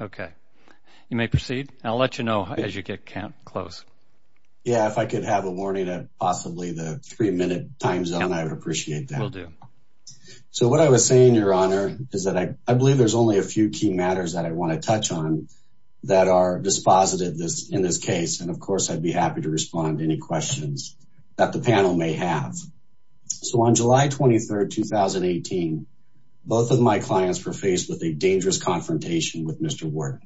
Okay, you may proceed and I'll let you know as you get count close Yeah, if I could have a warning that possibly the three-minute times on I would appreciate that will do So what I was saying your honor is that I believe there's only a few key matters that I want to touch on That are dispositive this in this case. And of course, I'd be happy to respond to any questions that the panel may have so on July 23rd 2018 Both of my clients were faced with a dangerous confrontation with mr. Ward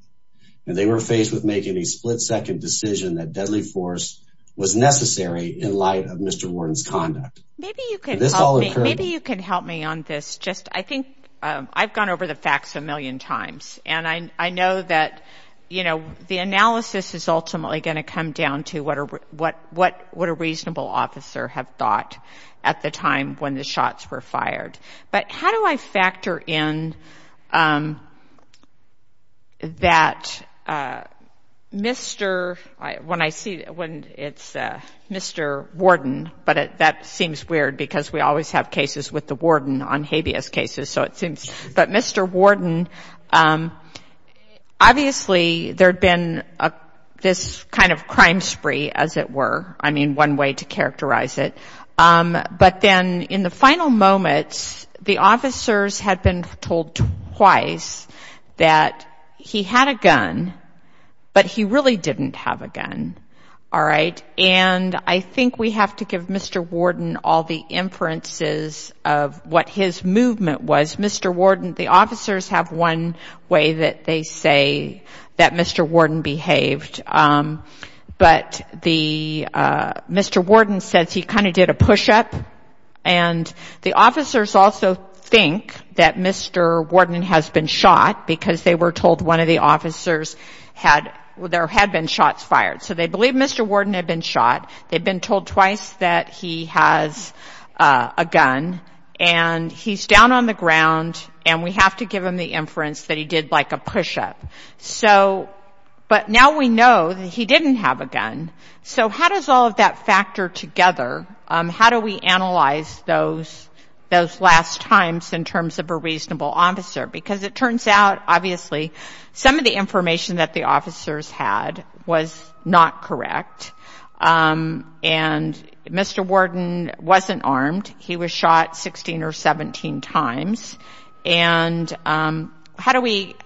and they were faced with making a split-second decision that deadly force was necessary in light of mr. Warden's conduct Maybe you can help me on this just I think I've gone over the facts a million times and I know that You know The analysis is ultimately going to come down to what or what what what a reasonable officer have thought At the time when the shots were fired, but how do I factor in? That Mr. when I see when it's Mr. Warden, but that seems weird because we always have cases with the warden on habeas cases. So it seems but mr. Warden Obviously there'd been a this kind of crime spree as it were I mean one way to characterize it But then in the final moments the officers had been told twice That he had a gun But he really didn't have a gun Alright, and I think we have to give mr. Warden all the inferences of what his movement was Mr. Warden the officers have one way that they say that mr. Warden behaved but the Mr. Warden says he kind of did a push-up and The officers also think that mr. Warden has been shot because they were told one of the officers Had well there had been shots fired. So they believe mr. Warden had been shot. They've been told twice that he has a gun and He's down on the ground and we have to give him the inference that he did like a push-up. So But now we know that he didn't have a gun so how does all of that factor together How do we analyze those? Those last times in terms of a reasonable officer because it turns out obviously Some of the information that the officers had was not correct and Mr. Warden wasn't armed. He was shot 16 or 17 times and How do we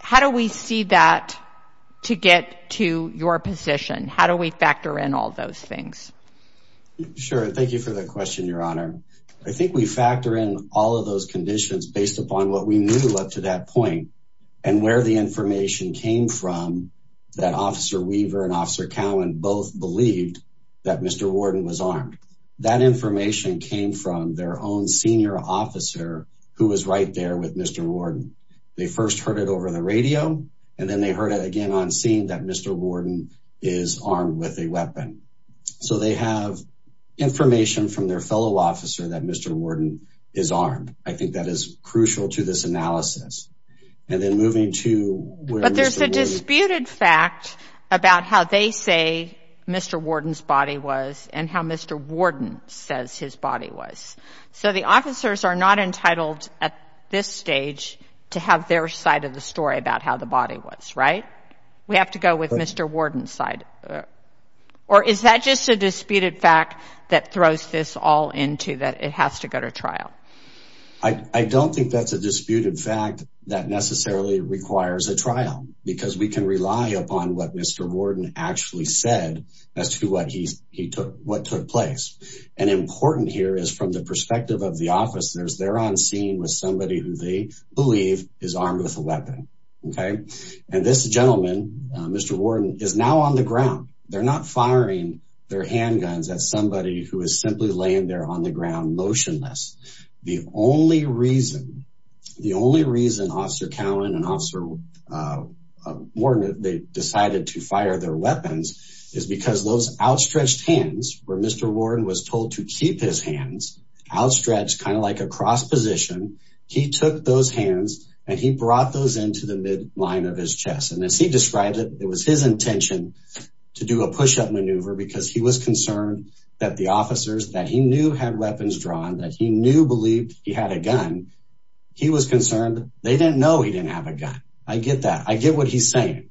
how do we see that to get to your position how do we factor in all those things Sure. Thank you for the question your honor I think we factor in all of those conditions based upon what we knew up to that point and where the information came from That officer Weaver and officer Cowen both believed that mr Warden was armed that information came from their own senior officer who was right there with mr Warden they first heard it over the radio and then they heard it again on scene that mr. Warden is armed with a weapon so they have Information from their fellow officer that mr. Warden is armed. I think that is crucial to this analysis and then moving to There's a disputed fact about how they say Mr. Warden's body was and how mr. Warden says his body was so the officers are not entitled at this stage To have their side of the story about how the body was right? We have to go with mr. Warden side Or is that just a disputed fact that throws this all into that it has to go to trial. I Don't think that's a disputed fact that necessarily requires a trial because we can rely upon what mr Warden actually said as to what he took what took place and Important here is from the perspective of the officers. They're on scene with somebody who they believe is armed with a weapon Okay, and this gentleman. Mr. Warden is now on the ground They're not firing their handguns at somebody who is simply laying there on the ground motionless the only reason the only reason officer Cowen and officer More than they decided to fire their weapons is because those outstretched hands where mr Warden was told to keep his hands Outstretched kind of like a cross position He took those hands and he brought those into the midline of his chest and as he described it It was his intention To do a push-up maneuver because he was concerned that the officers that he knew had weapons drawn that he knew believed he had a gun He was concerned they didn't know he didn't have a gun I get that I get what he's saying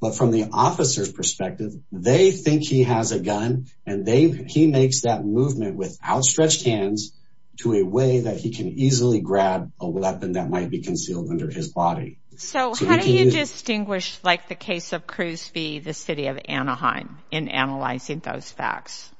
But from the officers perspective, they think he has a gun and they he makes that movement without stretched hands To a way that he can easily grab a weapon that might be concealed under his body So how do you distinguish like the case of Cruz be the city of Anaheim in analyzing those facts?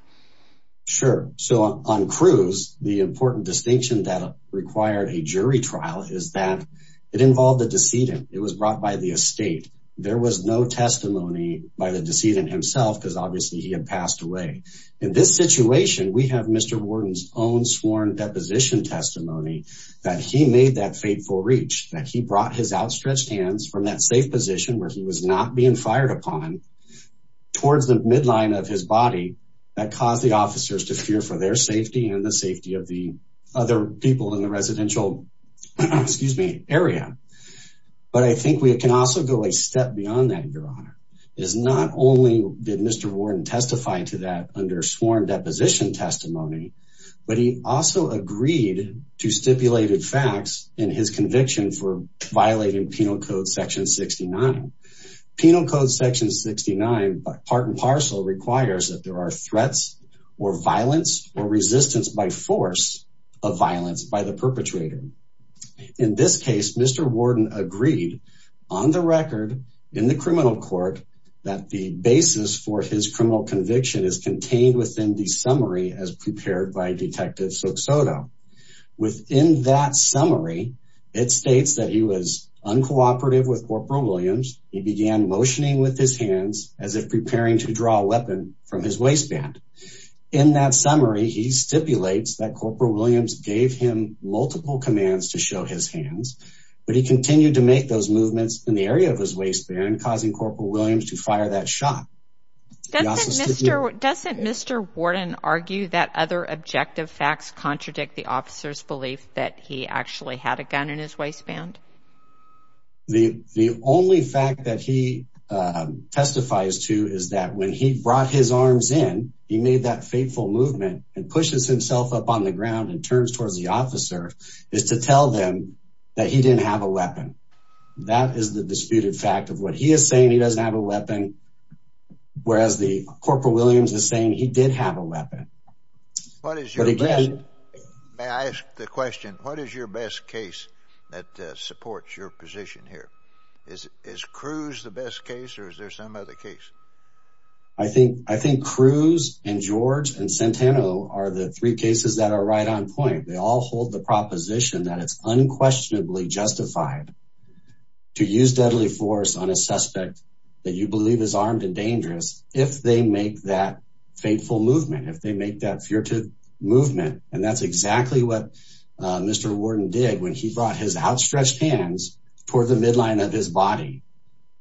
Sure, so on Cruz the important distinction that required a jury trial is that it involved the decedent It was brought by the estate There was no testimony by the decedent himself because obviously he had passed away in this situation We have mr Warden's own sworn Deposition testimony that he made that fateful reach that he brought his outstretched hands from that safe position where he was not being fired upon Towards the midline of his body that caused the officers to fear for their safety and the safety of the other people in the residential Excuse me area But I think we can also go a step beyond that your honor is not only did mr Warden testify to that under sworn deposition testimony But he also agreed to stipulated facts in his conviction for violating penal code section 69 Penal code section 69 but part and parcel requires that there are threats or violence or resistance by force of violence by the perpetrator In this case, mr Warden agreed on the record in the criminal court that the basis for his criminal conviction is Contained within the summary as prepared by a detective so Soto Within that summary it states that he was uncooperative with Corporal Williams He began motioning with his hands as if preparing to draw a weapon from his waistband in that summary He stipulates that Corporal Williams gave him multiple commands to show his hands But he continued to make those movements in the area of his waistband causing Corporal Williams to fire that shot Doesn't mr. Warden argue that other objective facts contradict the officers belief that he actually had a gun in his waistband The the only fact that he Testifies to is that when he brought his arms in he made that fateful movement and pushes himself up on the ground and turns Towards the officer is to tell them that he didn't have a weapon That is the disputed fact of what he is saying. He doesn't have a weapon Whereas the Corporal Williams is saying he did have a weapon What is your May I ask the question? What is your best case that supports your position here? Is is Cruz the best case or is there some other case? I? Think I think Cruz and George and Centeno are the three cases that are right on point. They all hold the proposition that it's unquestionably justified To use deadly force on a suspect that you believe is armed and dangerous if they make that Fateful movement if they make that furtive movement and that's exactly what Mr. Warden did when he brought his outstretched hands toward the midline of his body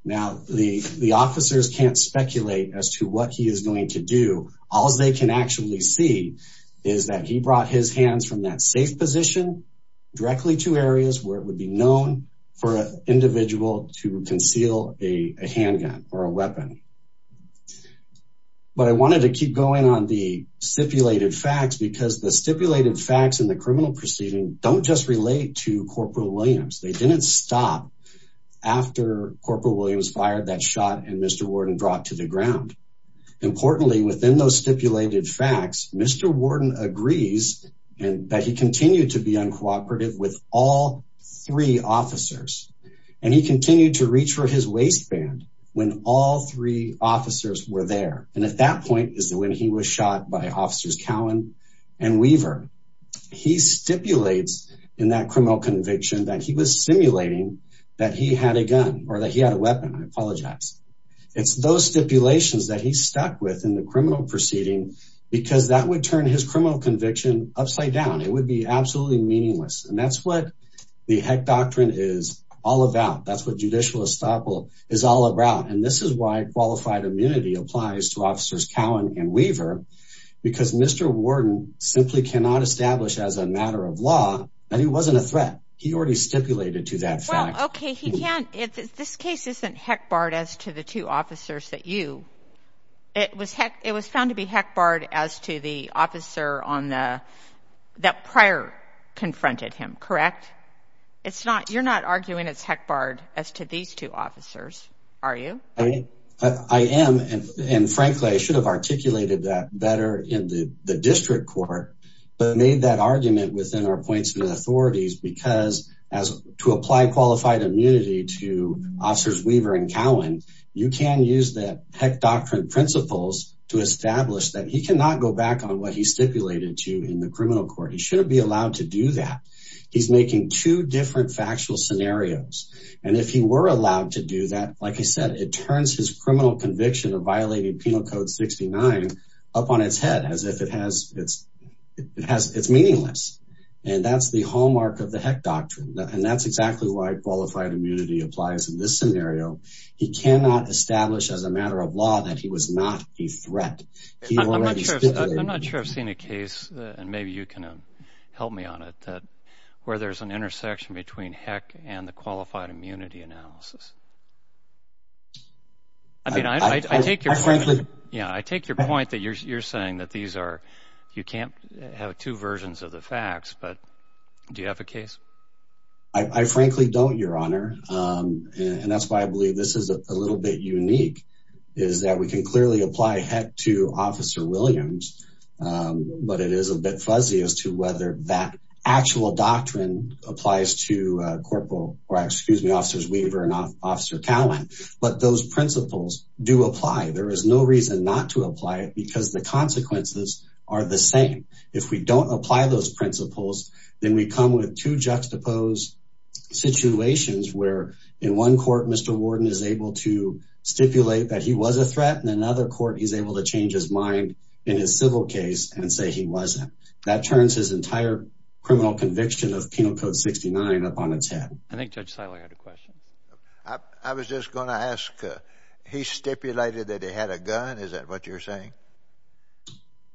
Now the the officers can't speculate as to what he is going to do All they can actually see is that he brought his hands from that safe position Directly to areas where it would be known for an individual to conceal a handgun or a weapon But I wanted to keep going on the Stipulated facts because the stipulated facts in the criminal proceeding don't just relate to Corporal Williams. They didn't stop After Corporal Williams fired that shot and Mr. Warden brought to the ground Importantly within those stipulated facts. Mr. Warden agrees and that he continued to be uncooperative with all three officers And he continued to reach for his waistband when all three officers were there and at that point is that when he was shot by officers Cowan and Weaver He stipulates in that criminal conviction that he was simulating that he had a gun or that he had a weapon. I apologize It's those stipulations that he stuck with in the criminal proceeding because that would turn his criminal conviction upside down It would be absolutely meaningless and that's what the Heck Doctrine is all about That's what judicial estoppel is all about and this is why qualified immunity applies to officers Cowan and Weaver Because Mr. Warden simply cannot establish as a matter of law that he wasn't a threat. He already stipulated to that fact This case isn't Heck barred as to the two officers that you it was it was found to be Heck barred as to the officer on the That prior Confronted him, correct? It's not you're not arguing. It's Heck barred as to these two officers. Are you? I mean, I am and frankly I should have articulated that better in the district court but made that argument within our points and authorities because as To apply qualified immunity to officers Weaver and Cowan You can use that Heck Doctrine principles to establish that he cannot go back on what he stipulated to in the criminal court He shouldn't be allowed to do that He's making two different factual scenarios And if he were allowed to do that, like I said, it turns his criminal conviction of violating Penal Code 69 Up on its head as if it has its it has its meaningless and that's the hallmark of the Heck Doctrine And that's exactly why qualified immunity applies in this scenario He cannot establish as a matter of law that he was not a threat I'm not sure I've seen a case and maybe you can help me on it that where there's an intersection between heck and the qualified immunity analysis I Mean I think you're frankly Yeah, I take your point that you're saying that these are you can't have two versions of the facts, but do you have a case? I Frankly don't your honor And that's why I believe this is a little bit unique is that we can clearly apply heck to officer Williams But it is a bit fuzzy as to whether that actual doctrine applies to Corporal or excuse me officers Weaver and officer Cowan, but those principles do apply There is no reason not to apply it because the consequences are the same if we don't apply those principles Then we come with two juxtaposed Situations where in one court mr. Warden is able to Stipulate that he was a threat in another court He's able to change his mind in his civil case and say he wasn't that turns his entire Criminal conviction of Penal Code 69 upon its head. I think judge Seiler had a question I was just gonna ask He stipulated that he had a gun. Is that what you're saying?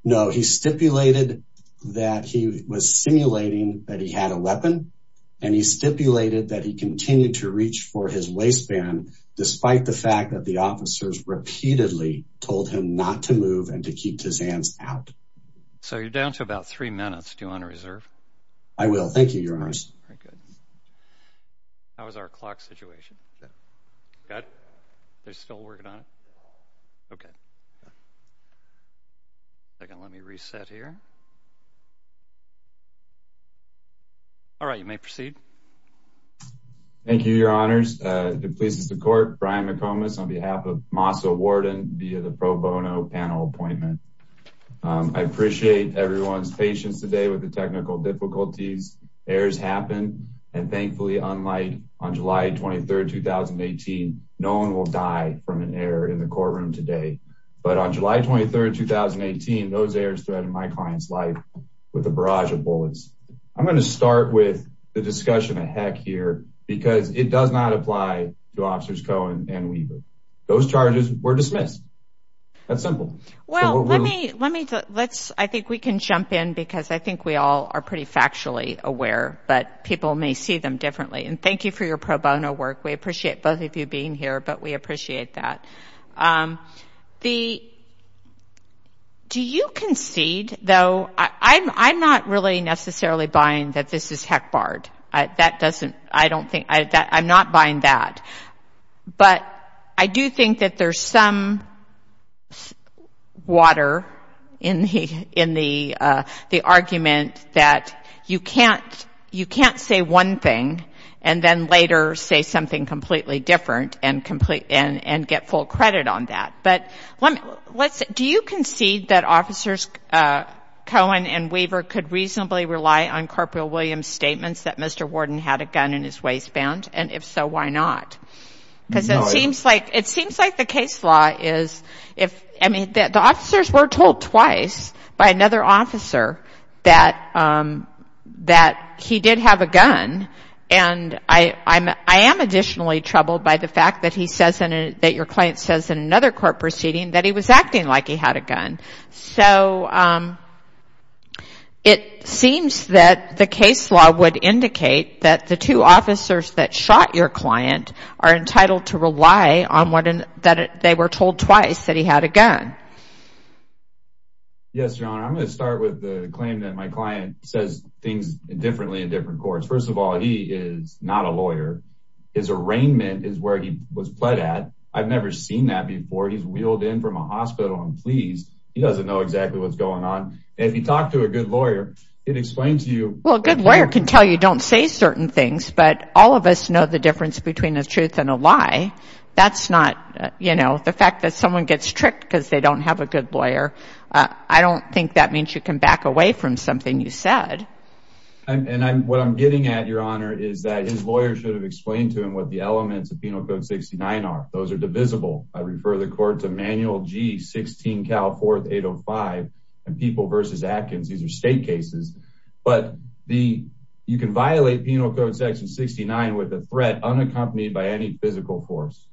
No, he stipulated that he was simulating that he had a weapon and he Stipulated that he continued to reach for his waistband Despite the fact that the officers repeatedly told him not to move and to keep his hands out So you're down to about three minutes to honor reserve. I will thank you your honors How was our clock situation Second let me reset here All right, you may proceed Thank you, your honors. The police is the court Brian McComas on behalf of masa warden via the pro bono panel appointment I appreciate everyone's patience today with the technical difficulties errors happen and thankfully unlike on July 23rd 2018 no one will die from an error in the courtroom today But on July 23rd 2018 those errors threatened my client's life with a barrage of bullets I'm going to start with the discussion a heck here because it does not apply to officers Cohen and Weaver Those charges were dismissed That's simple. Well, let me let me let's I think we can jump in because I think we all are pretty factually aware But people may see them differently and thank you for your pro bono work. We appreciate both of you being here, but we appreciate that The Do you concede though, I'm I'm not really necessarily buying that this is heck barred I that doesn't I don't think I'm not buying that But I do think that there's some Water in he in the the argument that you can't you can't say one thing and then later say something completely different and And and get full credit on that but let me let's do you concede that officers Cohen and Weaver could reasonably rely on corporeal Williams statements that mr. Warden had a gun in his waistband and if so, why not? Because it seems like it seems like the case law is if I mean that the officers were told twice by another officer that That he did have a gun and I I'm I am Additionally troubled by the fact that he says in it that your client says in another court proceeding that he was acting like he had a gun so It seems that the case law would indicate that the two officers that shot your client are Entitled to rely on what and that they were told twice that he had a gun Yes, your honor I'm gonna start with the claim that my client says things differently in different courts First of all, he is not a lawyer. His arraignment is where he was pled at. I've never seen that before He's wheeled in from a hospital and please he doesn't know exactly what's going on If you talk to a good lawyer, it explains to you Well, a good lawyer can tell you don't say certain things but all of us know the difference between the truth and a lie That's not you know, the fact that someone gets tricked because they don't have a good lawyer I don't think that means you can back away from something you said And I'm what I'm getting at your honor Is that his lawyer should have explained to him what the elements of penal code 69 are those are divisible I refer the court to manual G 16 Cal 4805 and people versus Atkins These are state cases But the you can violate penal code section 69 with a threat unaccompanied by any physical force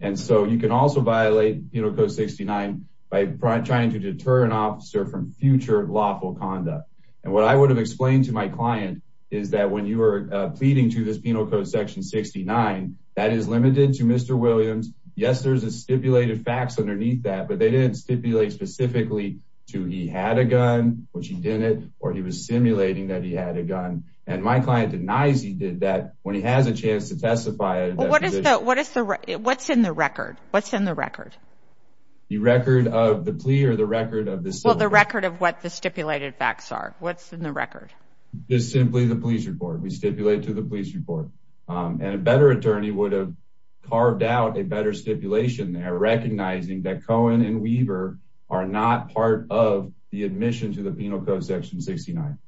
And so you can also violate, you know Go 69 by trying to deter an officer from future lawful conduct And what I would have explained to my client is that when you were pleading to this penal code section 69 that is limited to Mr. Williams. Yes, there's a stipulated facts underneath that but they didn't stipulate Specifically to he had a gun which he didn't or he was simulating that he had a gun and my client denies He did that when he has a chance to testify What is the what's in the record? What's in the record? The record of the plea or the record of the so the record of what the stipulated facts are what's in the record? Just simply the police report. We stipulate to the police report and a better attorney would have carved out a better stipulation Recognizing that Cohen and Weaver are not part of the admission to the penal code section 69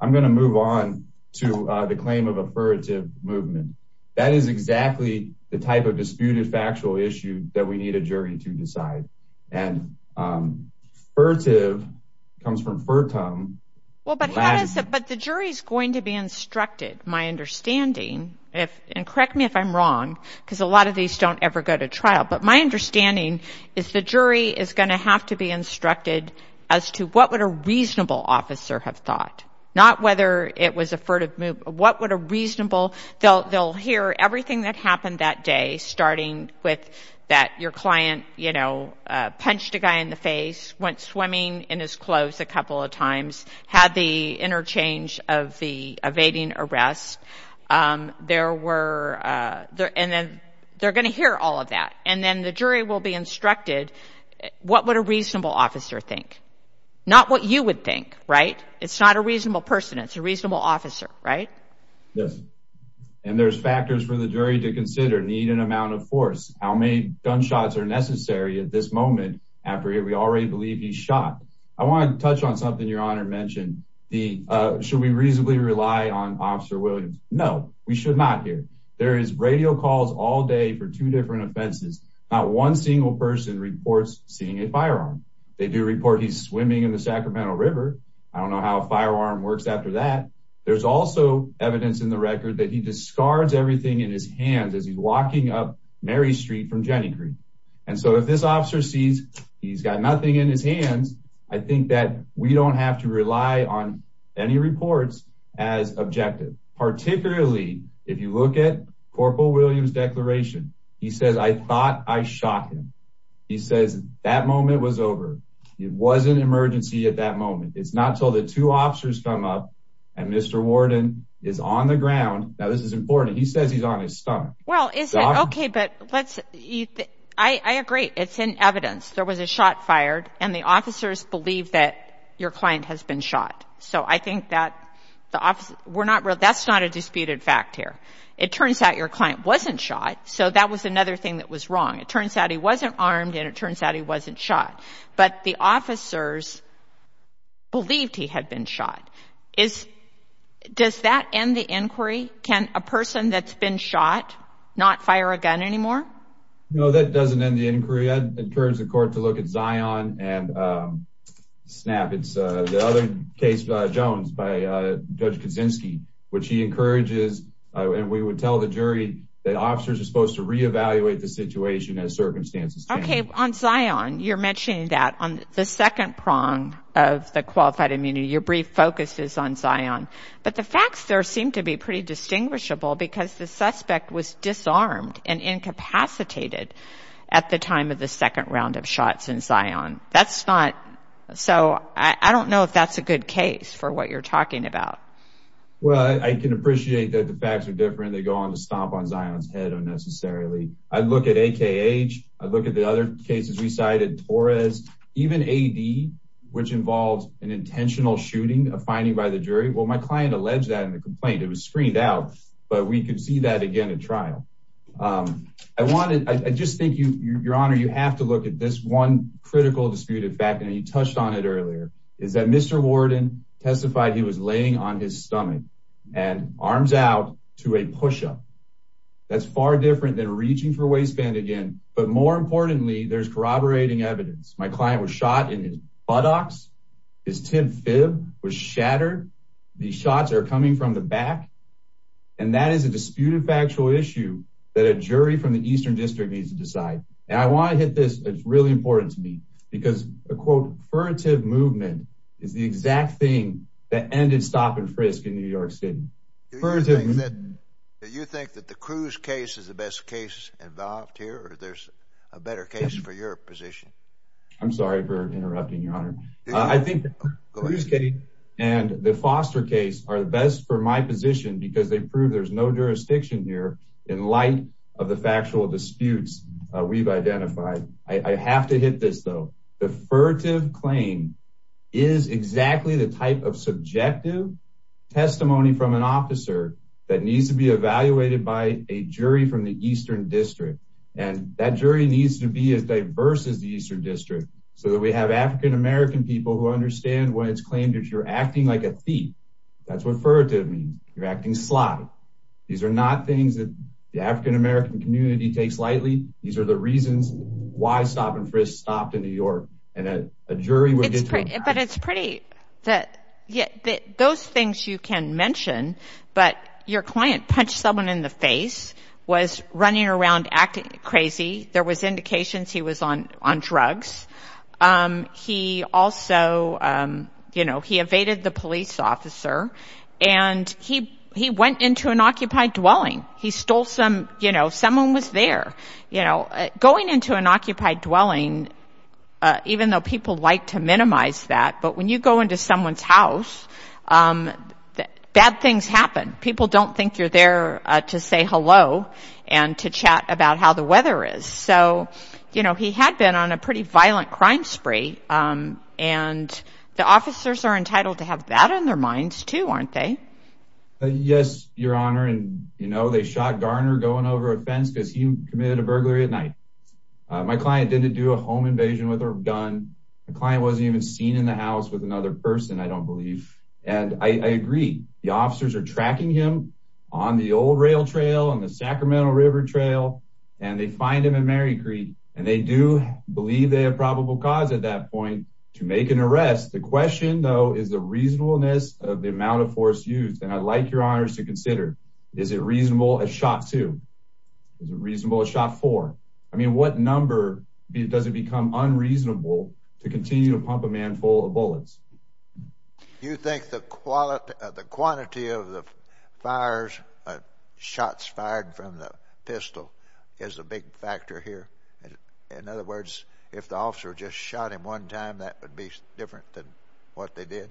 I'm going to move on to the claim of a furtive movement that is exactly the type of disputed factual issue that we need a jury to decide and Furtive comes from Furtome But the jury's going to be instructed my understanding If and correct me if I'm wrong because a lot of these don't ever go to trial But my understanding is the jury is going to have to be instructed as to what would a reasonable officer have thought? Not whether it was a furtive move. What would a reasonable they'll they'll hear everything that happened that day Starting with that your client, you know Punched a guy in the face went swimming in his clothes a couple of times had the interchange of the evading arrest There were There and then they're gonna hear all of that and then the jury will be instructed What would a reasonable officer think? Not what you would think right? It's not a reasonable person. It's a reasonable officer, right? Yes, and there's factors for the jury to consider need an amount of force How many gunshots are necessary at this moment after here? We already believe he shot I want to touch on something your honor mentioned the should we reasonably rely on officer Williams? No, we should not hear there is radio calls all day for two different offenses Not one single person reports seeing a firearm. They do report. He's swimming in the Sacramento River I don't know how a firearm works after that There's also evidence in the record that he discards everything in his hands as he's walking up Mary Street from Jenny Creek And so if this officer sees he's got nothing in his hands I think that we don't have to rely on any reports as objective Particularly if you look at Corporal Williams declaration, he says I thought I shot him He says that moment was over. It was an emergency at that moment. It's not till the two officers come up and mr Warden is on the ground. Now. This is important. He says he's on his stomach. Well, it's okay, but let's I Agree, it's in evidence. There was a shot fired and the officers believe that your client has been shot So I think that the office we're not really that's not a disputed fact here. It turns out your client wasn't shot So that was another thing that was wrong. It turns out he wasn't armed and it turns out he wasn't shot, but the officers believed he had been shot is Does that end the inquiry can a person that's been shot not fire a gun anymore? No, that doesn't end the inquiry. I'd encourage the court to look at Zion and Snap it's the other case Jones by Judge Kaczynski Which he encourages and we would tell the jury that officers are supposed to re-evaluate the situation as circumstances Okay on Zion you're mentioning that on the second prong of the qualified immunity your brief focus is on Zion but the facts there seem to be pretty distinguishable because the suspect was disarmed and Incapacitated at the time of the second round of shots in Zion That's not so I don't know if that's a good case for what you're talking about Well, I can appreciate that. The facts are different. They go on to stomp on Zion's head unnecessarily. I'd look at AKH I look at the other cases we cited Torres even a D which involves an Intentional shooting a finding by the jury. Well, my client alleged that in the complaint It was screened out, but we could see that again at trial I wanted I just think you your honor You have to look at this one critical disputed back and he touched on it earlier. Is that mr Warden testified he was laying on his stomach and arms out to a push-up That's far different than reaching for a waistband again, but more importantly there's corroborating evidence My client was shot in his buttocks His tip fib was shattered. These shots are coming from the back and That is a disputed factual issue that a jury from the Eastern District needs to decide and I want to hit this It's really important to me because a quote furtive movement is the exact thing that ended stop-and-frisk in New York City Do you think that the cruise case is the best case involved here or there's a better case for your position? I'm sorry for interrupting your honor I think Cruise case and the foster case are the best for my position because they prove there's no jurisdiction here in light of the factual Disputes we've identified. I have to hit this though. The furtive claim is exactly the type of subjective testimony from an officer that needs to be evaluated by a jury from the Eastern District and That jury needs to be as diverse as the Eastern District so that we have African-american people who understand why it's claimed if you're acting like a thief that's what furtive means you're acting sly These are not things that the African-american community takes lightly These are the reasons why stop-and-frisk stopped in New York and a jury would get it, but it's pretty that Yeah, those things you can mention But your client punched someone in the face was running around acting crazy there was indications he was on on drugs he also you know, he evaded the police officer and He he went into an occupied dwelling. He stole some, you know, someone was there, you know going into an occupied dwelling Even though people like to minimize that but when you go into someone's house Bad things happen people don't think you're there to say hello and to chat about how the weather is so, you know, he had been on a pretty violent crime spree and The officers are entitled to have that in their minds too, aren't they? Yes, your honor, and you know, they shot Garner going over a fence because he committed a burglary at night My client didn't do a home invasion with her gun. The client wasn't even seen in the house with another person I don't believe and I agree the officers are tracking him on the old rail trail on the Sacramento River Trail and They find him in Mary Creek and they do Believe they have probable cause at that point to make an arrest the question though is the reasonableness Of the amount of force used and I'd like your honors to consider. Is it reasonable a shot to? Is it reasonable a shot for I mean what number does it become unreasonable to continue to pump a man full of bullets? You think the quality of the quantity of the fires? Shots fired from the pistol is a big factor here In other words if the officer just shot him one time that would be different than what they did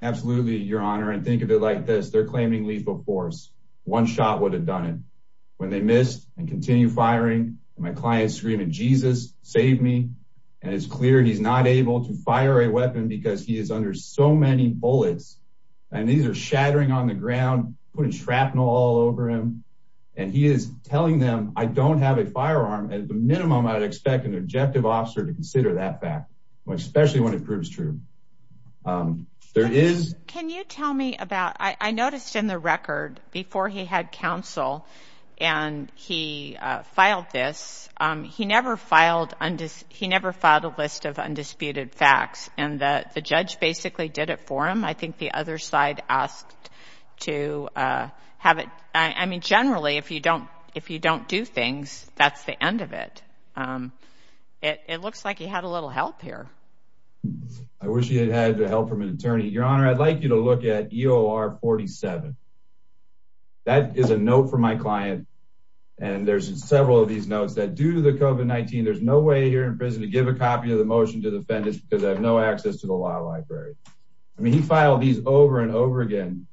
Absolutely, your honor and think of it like this They're claiming lethal force one shot would have done it when they missed and continue firing My clients screaming Jesus saved me and it's clear He's not able to fire a weapon because he is under so many bullets And these are shattering on the ground putting shrapnel all over him and he is telling them I don't have a firearm at the minimum. I'd expect an objective officer to consider that back especially when it proves true There is can you tell me about I noticed in the record before he had counsel and He filed this He never filed and he never filed a list of undisputed facts and that the judge basically did it for him I think the other side asked to Have it. I mean generally if you don't if you don't do things, that's the end of it It looks like he had a little help here. I Wish you had the help from an attorney your honor. I'd like you to look at EOR 47 That is a note for my client And there's several of these notes that due to the COVID-19 There's no way here in prison to give a copy of the motion to defend us because I have no access to the law library I mean he filed these over and over again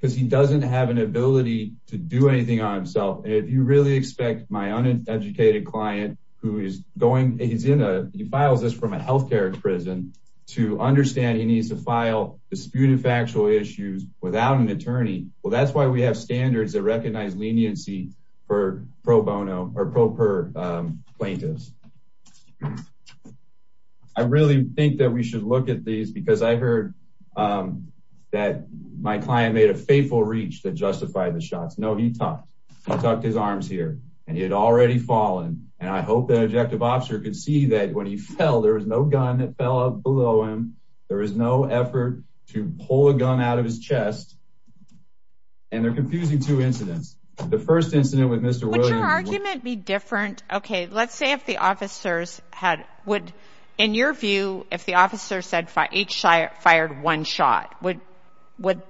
Because he doesn't have an ability to do anything on himself And if you really expect my uneducated client who is going he's in a he files this from a health care prison To understand he needs to file disputed factual issues without an attorney Well, that's why we have standards that recognize leniency for pro bono or pro per plaintiffs. I Really think that we should look at these because I heard That my client made a faithful reach that justified the shots No, he talked I talked his arms here and he had already fallen and I hope that objective officer could see that when he fell There was no gun that fell out below him. There was no effort to pull a gun out of his chest And they're confusing two incidents the first incident with mr. Williams argument be different Okay let's say if the officers had would in your view if the officer said for each side fired one shot would Would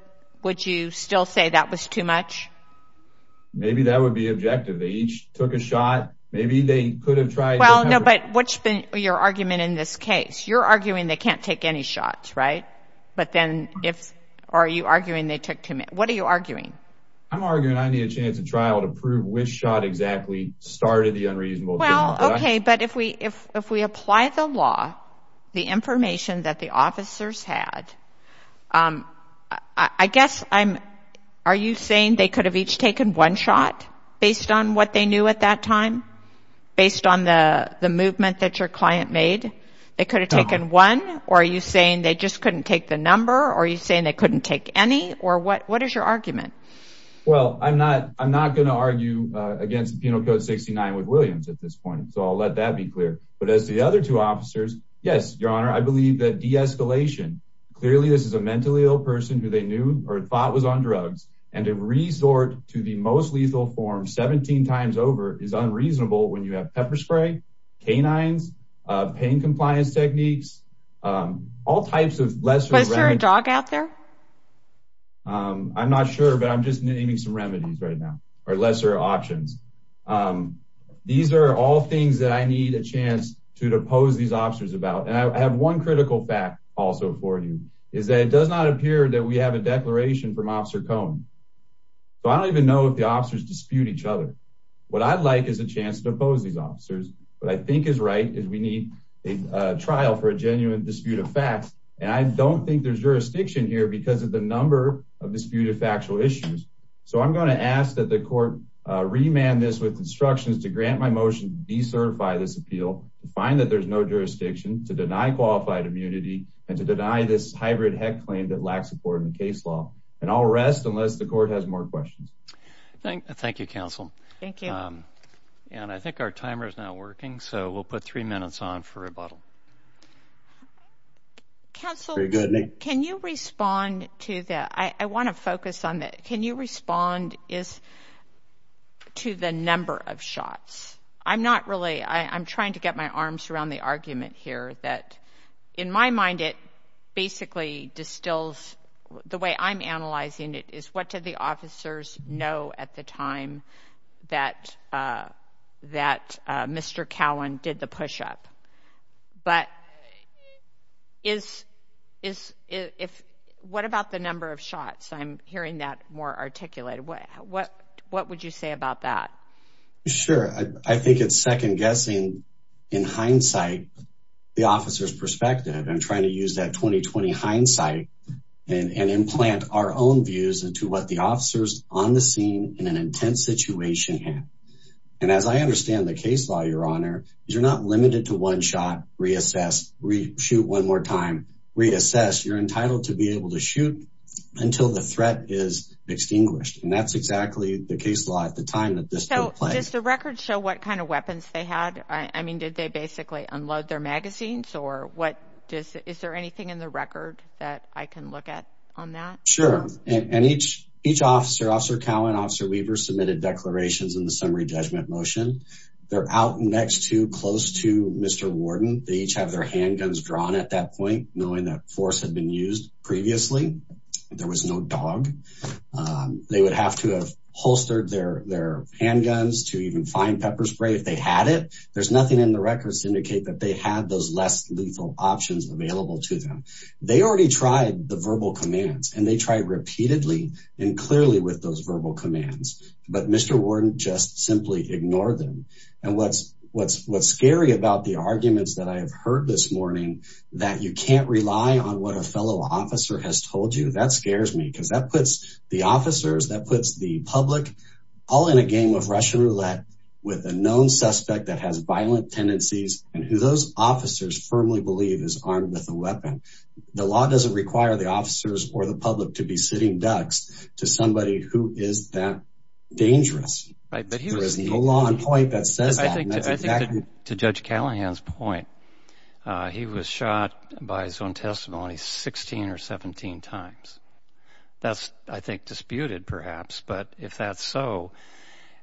would you still say that was too much? Maybe that would be objective. They each took a shot. Maybe they could have tried well No, but what's been your argument in this case? You're arguing they can't take any shots, right? But then if are you arguing they took to me what are you arguing I'm arguing I need a chance at trial to prove which shot exactly Started the unreasonable. Well, okay, but if we if we apply the law the information that the officers had I Guess I'm are you saying they could have each taken one shot based on what they knew at that time Based on the the movement that your client made They could have taken one or are you saying they just couldn't take the number or you saying they couldn't take any or what? What is your argument? Well, I'm not I'm not gonna argue against the Penal Code 69 with Williams at this point So I'll let that be clear. But as the other two officers, yes, your honor. I believe that de-escalation Clearly, this is a mentally ill person who they knew or thought was on drugs and to resort to the most lethal form 17 times over is unreasonable when you have pepper spray canines pain compliance techniques All types of lesser a dog out there I'm not sure but I'm just naming some remedies right now or lesser options These are all things that I need a chance to depose these officers about and I have one critical fact Also for you is that it does not appear that we have a declaration from officer cone So I don't even know if the officers dispute each other what I'd like is a chance to oppose these officers but I think is right is we need a Trial for a genuine dispute of facts and I don't think there's jurisdiction here because of the number of disputed factual issues So I'm going to ask that the court Remand this with instructions to grant my motion De-certify this appeal to find that there's no jurisdiction to deny qualified immunity and to deny this hybrid heck claim that lacks support in And I'll rest unless the court has more questions Thank you counsel. Thank you And I think our timer is now working. So we'll put three minutes on for a bottle Counsel can you respond to that? I want to focus on that. Can you respond is To the number of shots. I'm not really I'm trying to get my arms around the argument here that in my mind it basically distills The way I'm analyzing it is what did the officers know at the time? that That mr. Cowan did the push-up but is Is if what about the number of shots? I'm hearing that more articulated. What what what would you say about that? Sure, I think it's second-guessing in hindsight The officers perspective I'm trying to use that 20-20 hindsight and implant our own views into what the officers on the scene in an intense situation here and As I understand the case law your honor, you're not limited to one shot reassess Shoot one more time reassess you're entitled to be able to shoot until the threat is Extinguished and that's exactly the case law at the time that this so just a record show what kind of weapons they had I mean did they basically unload their magazines or what just is there anything in the record that I can look at on that? Sure, and each each officer officer Cowan officer Weaver submitted declarations in the summary judgment motion They're out next to close to mr. Warden. They each have their handguns drawn at that point knowing that force had been used previously There was no dog They would have to have holstered their their handguns to even find pepper spray if they had it There's nothing in the records to indicate that they had those less lethal options available to them They already tried the verbal commands and they tried repeatedly and clearly with those verbal commands But mr Warden just simply ignored them and what's what's what's scary about the arguments that I have heard this morning that You can't rely on what a fellow officer has told you that scares me because that puts the officers that puts the public All in a game of Russian roulette with a known suspect that has violent tendencies and who those officers Firmly believe is armed with a weapon The law doesn't require the officers or the public to be sitting ducks to somebody who is that? Dangerous, right, but he was the law on point that says I think to judge Callahan's point He was shot by his own testimony 16 or 17 times That's I think disputed perhaps, but if that's so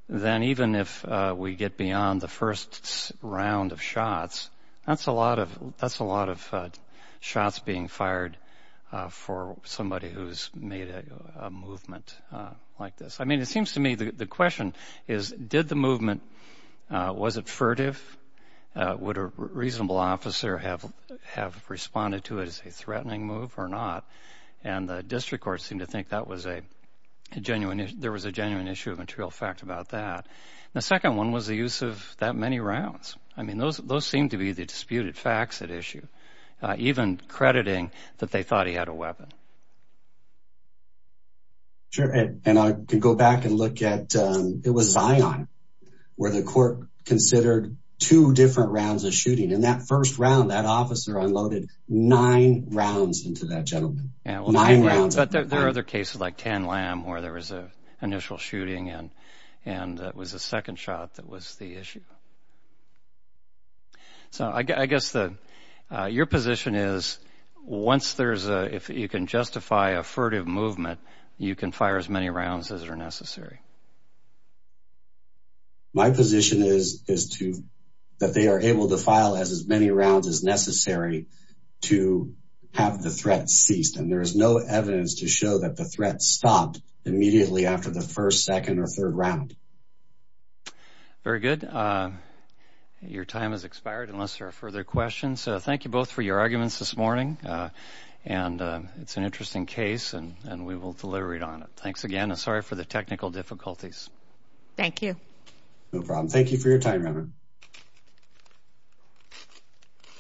Then even if we get beyond the first round of shots, that's a lot of that's a lot of shots being fired for somebody who's made a Movement like this. I mean it seems to me the question is did the movement Was it furtive? Would a reasonable officer have have responded to it as a threatening move or not and the district court seemed to think that was a Genuine there was a genuine issue of material fact about that. The second one was the use of that many rounds I mean those those seem to be the disputed facts at issue Even crediting that they thought he had a weapon Sure and I can go back and look at it was Zion Where the court considered two different rounds of shooting in that first round that officer unloaded nine rounds into that gentleman There are other cases like tan lamb where there was a initial shooting and and it was a second shot. That was the issue So, I guess the your position is Once there's a if you can justify a furtive movement, you can fire as many rounds as are necessary My position is is to that they are able to file as as many rounds as necessary To have the threat ceased and there is no evidence to show that the threat stopped immediately after the first second or third round Very good Your time has expired unless there are further questions. So thank you both for your arguments this morning and It's an interesting case and and we will deliver it on it. Thanks again. Sorry for the technical difficulties Thank you, no problem. Thank you for your time